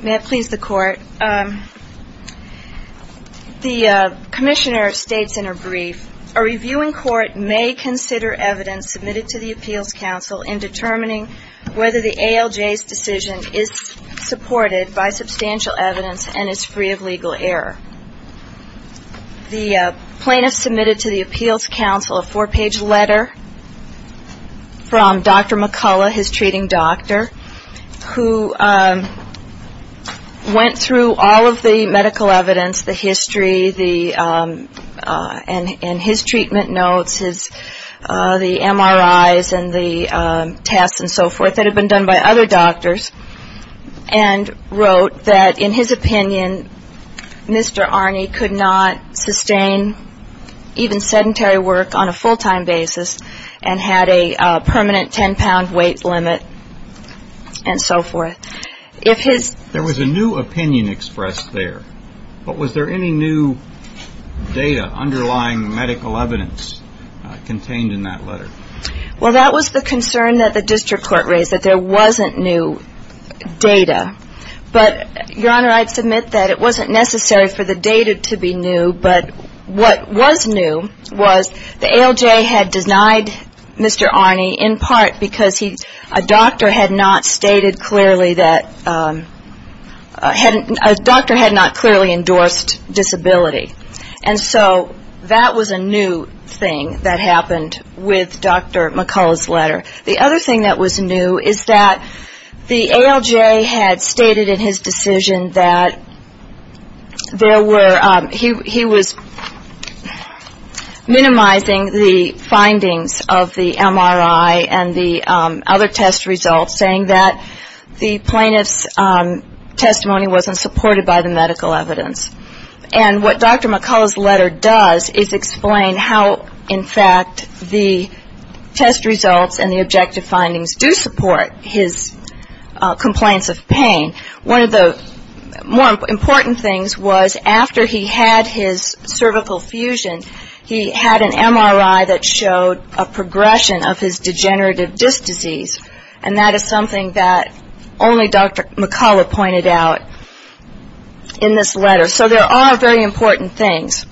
May it please the Court, the Commissioner states in her brief, a reviewing court may consider evidence submitted to the Appeals Council in determining whether the ALJ's decision is supported by substantial evidence and is free of legal error. The plaintiff submitted to the Appeals Council a four-page letter from Dr. McCullough, his treating doctor, who went through all of the medical evidence, the history and his treatment notes, the MRIs and the tests and so forth that had been done by other doctors and wrote that, in his opinion, Mr. Aerni could not sustain even sedentary work on a full-time basis and had a permanent 10-pound weight limit and so forth. If his... There was a new opinion expressed there, but was there any new data underlying medical evidence contained in that letter? Well, that was the concern that the district court raised, that there wasn't new data. But, Your Honor, I'd submit that it wasn't necessary for the data to be new, but what was new was the ALJ had denied Mr. Aerni, in part, because a doctor had not stated clearly that... A doctor had not clearly endorsed disability. And so that was a new thing that happened with Dr. McCullough's letter. The other thing that was new is that the ALJ had stated in his decision that there were... He was minimizing the findings of the MRI and the other test results, saying that the plaintiff's testimony wasn't supported by the medical evidence. And what Dr. McCullough's letter does is explain how, in fact, the test results and the objective findings do support his complaints of pain. One of the more important things was, after he had his cervical fusion, he had an MRI that showed a progression of his degenerative disc disease. And that is something that only Dr. McCullough pointed out in this letter. So there are very important things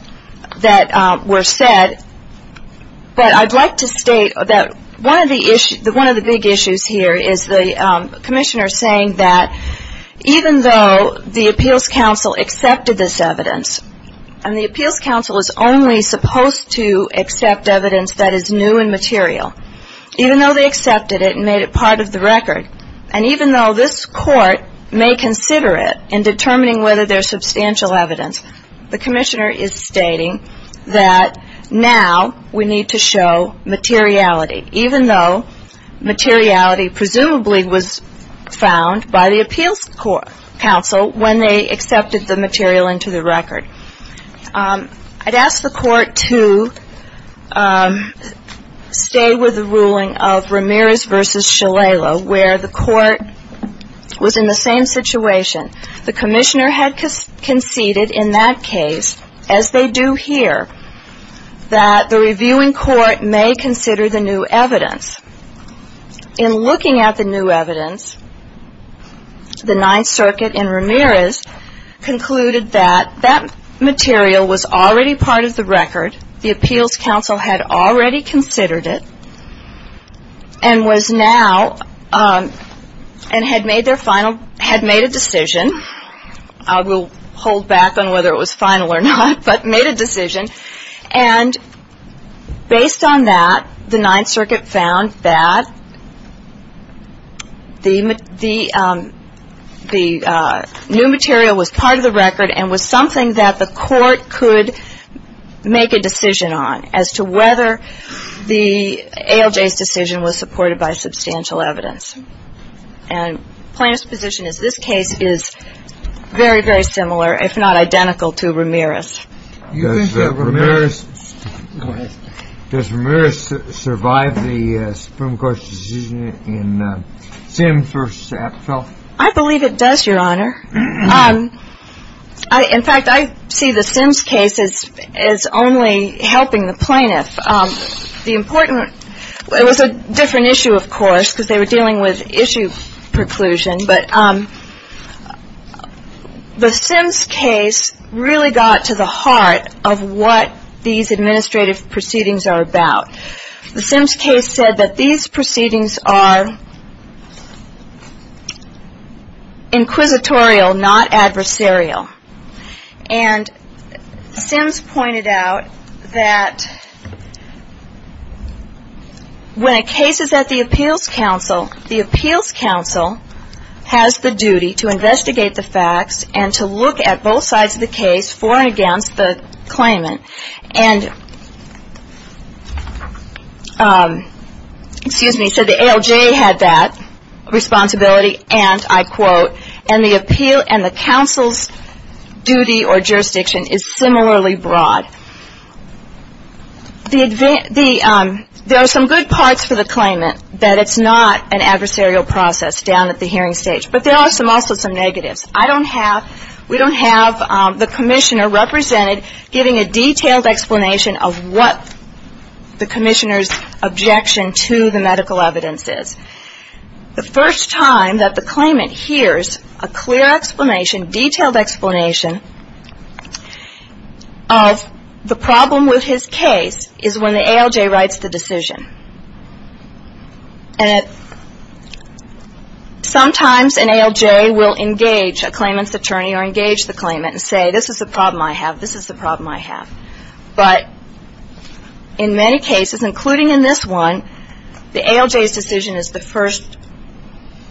that were said. But I'd like to state that one of the big issues here is the commissioner saying that even though the Appeals Council accepted this evidence, and the Appeals Council is only supposed to accept evidence that is new and material, even though they accepted it and made it part of the record, and even though this court may consider it in determining whether there's substantial evidence, the commissioner is stating that now we need to show materiality, even though materiality presumably was found by the Appeals Council when they accepted the material into the record. I'd ask the court to stay with the ruling of Ramirez versus Shalala, where the court was in the same situation. The commissioner had conceded in that case, as they do here, that the reviewing court may consider the new evidence. In looking at the new evidence, the Ninth Circuit in Ramirez concluded that that material was already part of the record, the Appeals Council had already considered it, and was now, and had made their final, had made a decision, I will hold back on whether it was final or not, but made a decision, and based on that, the Ninth Circuit found that the new material was part of the record and was something that the court could make a decision on, as to whether the ALJ's decision was supported by substantial evidence. And plaintiff's position is this case is very, very similar, if not identical, to Ramirez. Does Ramirez survive the Supreme Court's decision in Sims versus Apfel? I believe it does, Your Honor. In fact, I see the Sims case as only helping the plaintiff. The important, it was a different issue, of course, because they were dealing with issue preclusion, but the Sims case really got to the heart of what these administrative proceedings are about. The Sims case said that these proceedings are inquisitorial, not adversarial. And Sims pointed out that when a case is at the Appeals Council, the Appeals Council has the duty to investigate the facts and to look at both sides of the case for and against the claimant. And, excuse me, so the ALJ had that responsibility, and I quote, and the Appeal Council's duty or jurisdiction is similarly broad. There are some good parts for the claimant, that it's not an adversarial process down at the hearing stage, but there are also some negatives. I don't have, we don't have the commissioner represented giving a detailed explanation of what the commissioner's objection to the medical evidence is. The first time that the claimant hears a clear explanation, detailed explanation of the problem with his case is when the ALJ writes the decision. And sometimes an ALJ will engage a claimant's attorney or engage the claimant and say, this is the problem I have, this is the problem I have. But in many cases, including in this one, the ALJ's decision is the first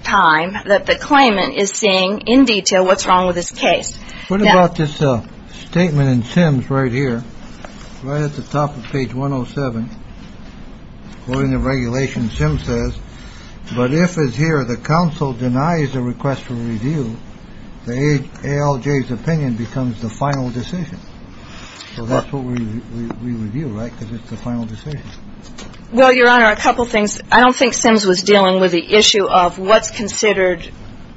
time that the claimant is seeing in detail what's wrong with this case. What about this statement in Sims right here, right at the top of page 107? According to regulation, Sims says, but if it's here, the council denies the request for review. The ALJ's opinion becomes the final decision. So that's what we review, right? Because it's the final decision. Well, Your Honor, a couple of things. I don't think Sims was dealing with the issue of what's considered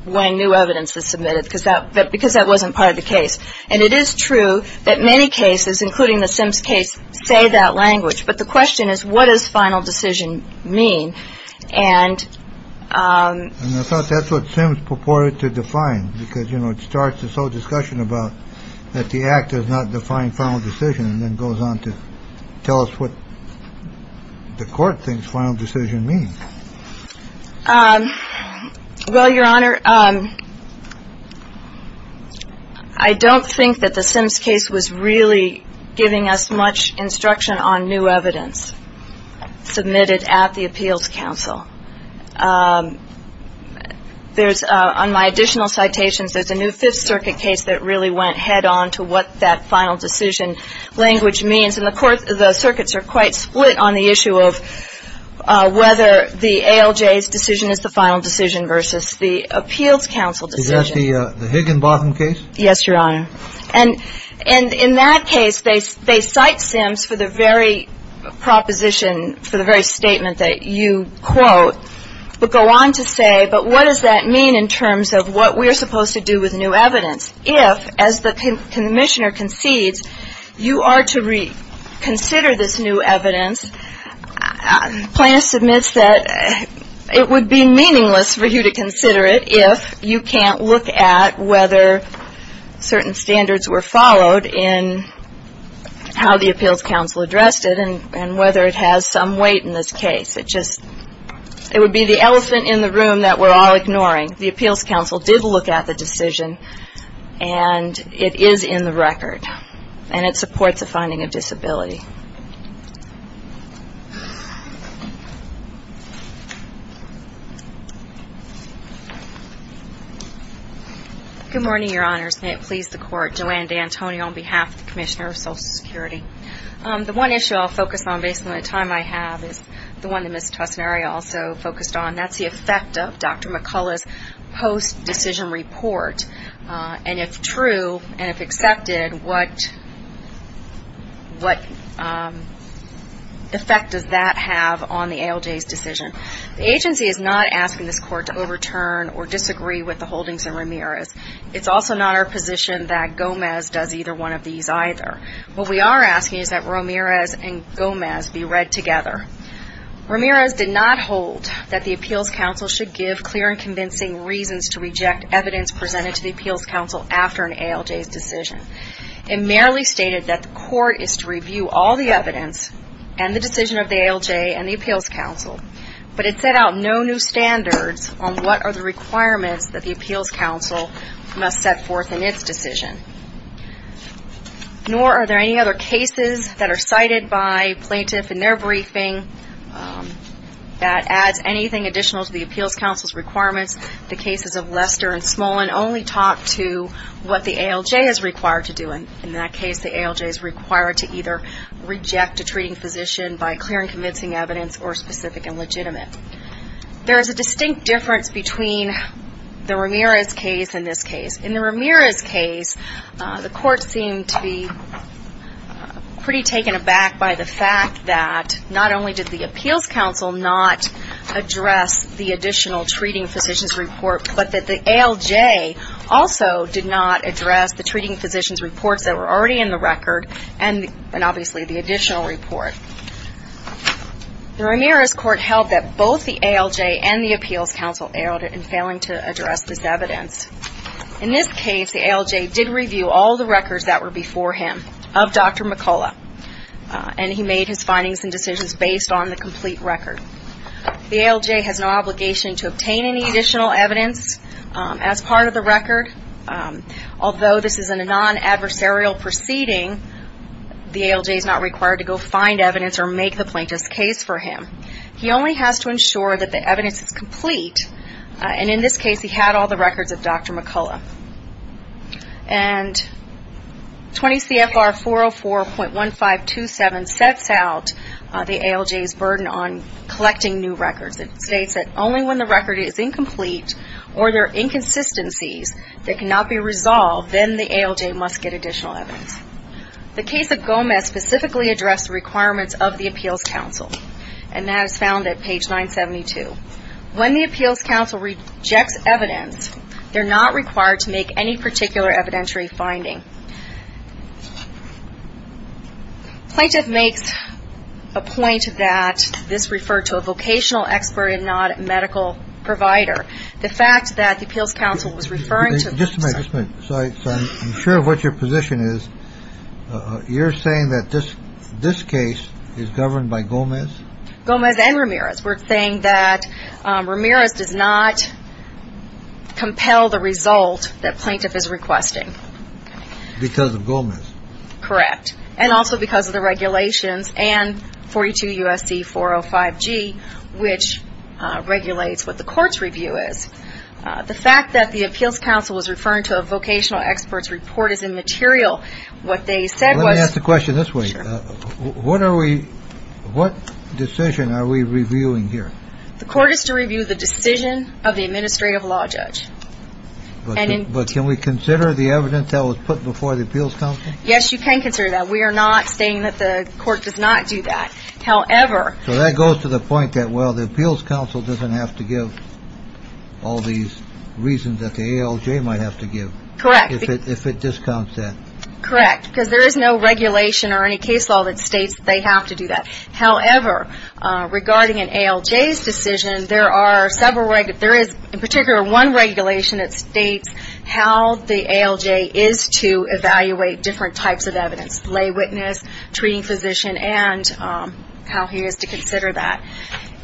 when new evidence is submitted, because that because that wasn't part of the case. And it is true that many cases, including the Sims case, say that language. But the question is, what does final decision mean? And I thought that's what Sims purported to define, because, you know, it starts this whole discussion about that the act does not define final decision, and then goes on to tell us what the court thinks final decision means. Well, Your Honor, I don't think that the Sims case was really giving us much instruction on new evidence submitted at the appeals council. There's on my additional citations, there's a new Fifth Circuit case that really went head on to what that final decision language means. And the circuits are quite split on the issue of whether the ALJ's decision is the final decision versus the appeals council decision. Is that the Higginbotham case? Yes, Your Honor. And in that case, they cite Sims for the very proposition, for the very statement that you quote, but go on to say, but what does that mean in terms of what we're supposed to do with new evidence? If, as the commissioner concedes, you are to reconsider this new evidence, plaintiff submits that it would be meaningless for you to consider it if you can't look at whether certain standards were followed in how the appeals council addressed it, and whether it has some weight in this case. It just, it would be the elephant in the room that we're all ignoring. The appeals council did look at the decision, and it is in the record, and it supports a finding of disability. Good morning, Your Honors. May it please the Court. Joanne D'Antonio on behalf of the Commissioner of Social Security. The one issue I'll focus on, based on the time I have, is the one that Ms. Tussinari also focused on. That's the effect of Dr. McCullough's post-decision report. And if true, and if accepted, what effect does that have on the ALJ's decision? The agency is not asking this Court to overturn or disagree with the holdings in Ramirez. It's also not our position that Gomez does either one of these either. What we are asking is that Ramirez and Gomez be read together. Ramirez did not hold that the appeals council should give clear and convincing reasons to reject evidence presented to the appeals council after an ALJ's decision. It merely stated that the Court is to review all the evidence and the decision of the ALJ and the appeals council but it set out no new standards on what are the requirements that the appeals council must set forth in its decision. Nor are there any other cases that are cited by plaintiff in their briefing that adds anything additional to the appeals council's requirements. The cases of Lester and Smolin only talk to what the ALJ is required to do. In that case, the ALJ is required to either reject a treating physician by clear and convincing evidence or specific and legitimate. There is a distinct difference between the Ramirez case and this case. In the Ramirez case, the Court seemed to be pretty taken aback by the fact that not only did the appeals council not address the additional treating physician's report but that the ALJ also did not address the treating physician's reports that were already in the record and obviously the additional report. The Ramirez Court held that both the ALJ and the appeals council failed in addressing this evidence. In this case, the ALJ did review all the records that were before him of Dr. McCullough and he made his findings and decisions based on the complete record. The ALJ has no obligation to obtain any additional evidence as part of the record although this is a non-adversarial proceeding. The ALJ is not required to go find evidence or make the plaintiff's case for him. He only has to ensure that the evidence is complete and in this case he had all the records of Dr. McCullough. 20 CFR 404.1527 sets out the ALJ's burden on collecting new records. It states that only when the record is incomplete or there are inconsistencies that cannot be resolved, then the ALJ must get additional evidence. The case of Gomez specifically addressed the requirements of the appeals council and that is found at page 972. When the appeals council rejects evidence, they're not required to make any particular evidentiary finding. Plaintiff makes a point that this referred to a vocational expert and not a medical provider. The fact that the appeals council was referring to... Just a minute, just a minute. I'm sure of what your position is. You're saying that this case is governed by Gomez? Gomez and Ramirez. We're saying that Ramirez does not compel the result that plaintiff is requesting. Because of Gomez? Correct. And also because of the regulations and 42 U.S.C. 405G which regulates what the court's review is. The fact that the appeals council was referring to a vocational expert's report is immaterial. What they said was... Let me ask the question this way. What decision are we reviewing here? The court is to review the decision of the administrative law judge. But can we consider the evidence that was put before the appeals council? Yes, you can consider that. We are not stating that the court does not do that. However... So that goes to the point that the appeals council doesn't have to give all these reasons that the ALJ might have to give. Correct. If it discounts that. Correct. Because there is no regulation or any case law that states they have to do that. However, regarding an ALJ's decision, there is in particular one regulation that states how the ALJ is to evaluate different types of evidence. Lay witness, treating physician, and how he is to consider that.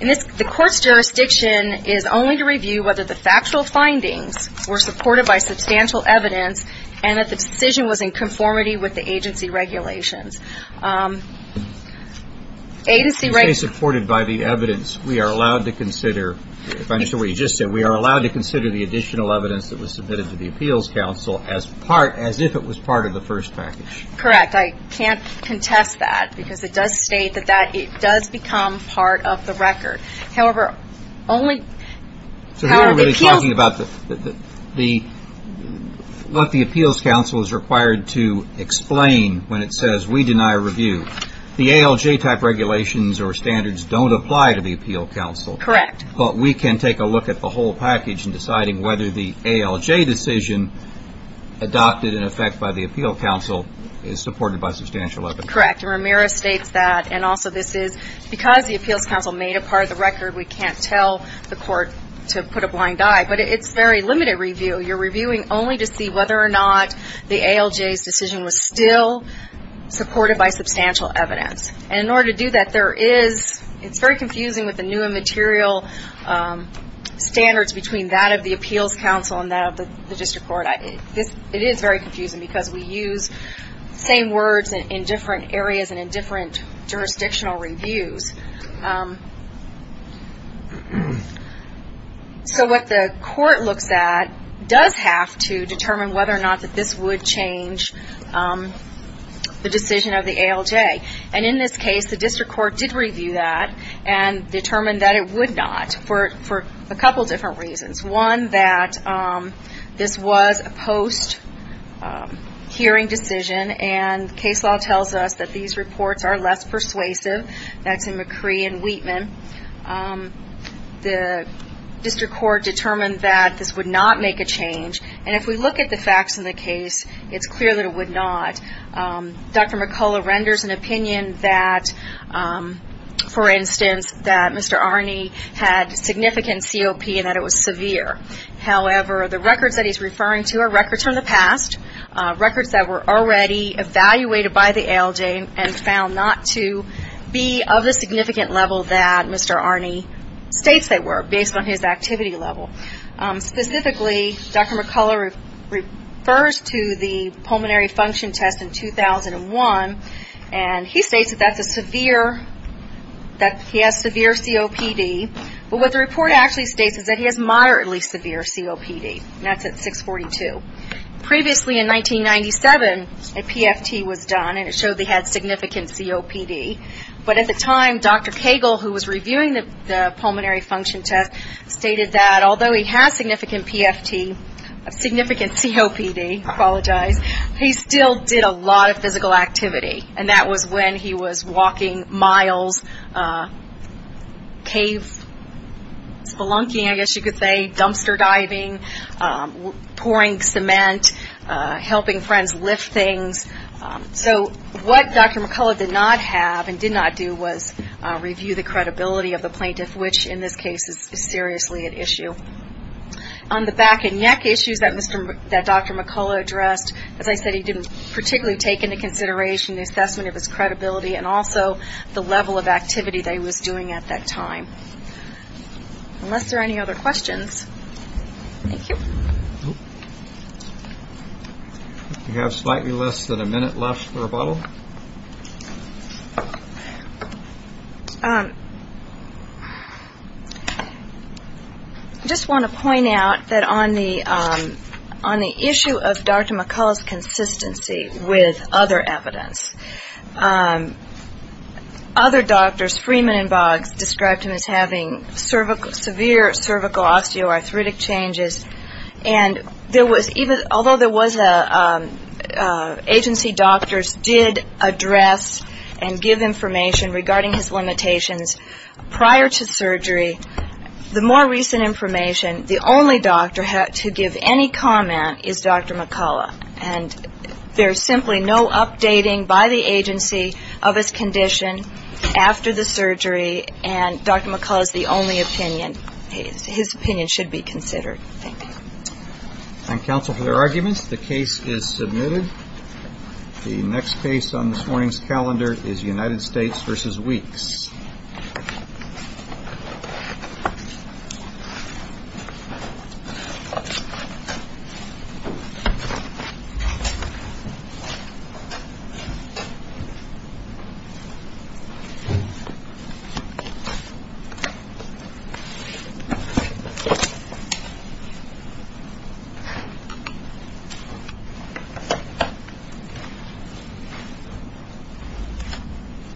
The court's jurisdiction is only to review whether the factual findings were supported by substantial evidence and that the decision was in conformity with the agency regulations. Agency regulations... Supported by the evidence, we are allowed to consider... If I understand what you just said, we are allowed to consider the additional evidence that was submitted to the appeals council as if it was part of the first package. Correct. I can't contest that because it does state that it does become part of the record. However, only... So here we are really talking about what the appeals council is required to explain when it says we deny review. The ALJ type regulations or standards don't apply to the appeal council. Correct. But we can take a look at the whole package in deciding whether the ALJ decision adopted in effect by the appeal council is supported by substantial evidence. Correct. Ramirez states that. And also this is... Because the appeals council made a part of the record, we can't tell the court to put a blind eye. But it's very limited review. You're reviewing only to see whether or not the ALJ's decision was still supported by substantial evidence. And in order to do that, there is... It's very confusing with the new and material standards between that of the appeals council and that of the district court. It is very confusing because we use the same words in different areas and in different jurisdictional reviews. So what the court looks at does have to determine whether or not this would change the decision of the ALJ. And in this case, the district court did review that and determined that it would not for a couple different reasons. One, that this was a post-hearing decision and case law tells us that these reports are less persuasive. That's in McCree and Wheatman. The district court determined that this would not make a change. And if we look at the facts in the case, it's clear that it would not. Dr. McCullough renders an opinion that, for instance, that Mr. Arney had significant COPD and that it was severe. However, the records that he's referring to are records from the past, records that were already evaluated by the ALJ and found not to be of the significant level that Mr. Arney states they were based on his activity level. Specifically, Dr. McCullough refers to the pulmonary function test in 2001 and he states that he has severe COPD. But what the report actually states is that he has moderately severe COPD. And that's at 642. Previously, in 1997, a PFT was done and it showed that he had significant COPD. But at the time, Dr. Cagle, who was reviewing the pulmonary function test, stated that although he has significant PFT, significant COPD, I apologize, he still did a lot of physical activity. And that was when he was walking miles, cave spelunking, I guess you could say, dumpster diving, pouring cement, helping friends lift things. So what Dr. McCullough did not have and did not do was review the credibility of the plaintiff, which in this case is seriously at issue. On the back and neck issues that Dr. McCullough addressed, as I said, he didn't particularly take into consideration the assessment of his credibility and also the level of activity that he was doing at that time. Unless there are any other questions. Thank you. We have slightly less than a minute left for a bottle. Thank you. I just want to point out that on the issue of Dr. McCullough's consistency with other evidence, other doctors, Freeman and Boggs, described him as having severe cervical osteoarthritic changes. And there was even, although there was agency doctors did address and give information regarding his limitations prior to surgery, the more recent information, the only doctor to give any comment is Dr. McCullough. And there's simply no updating by the agency of his condition after the surgery and Dr. McCullough's the only opinion, his opinion should be considered. Thank you. Thank you, counsel, for your arguments. The case is submitted. The next case on this morning's calendar is United States v. Weeks. Thank you.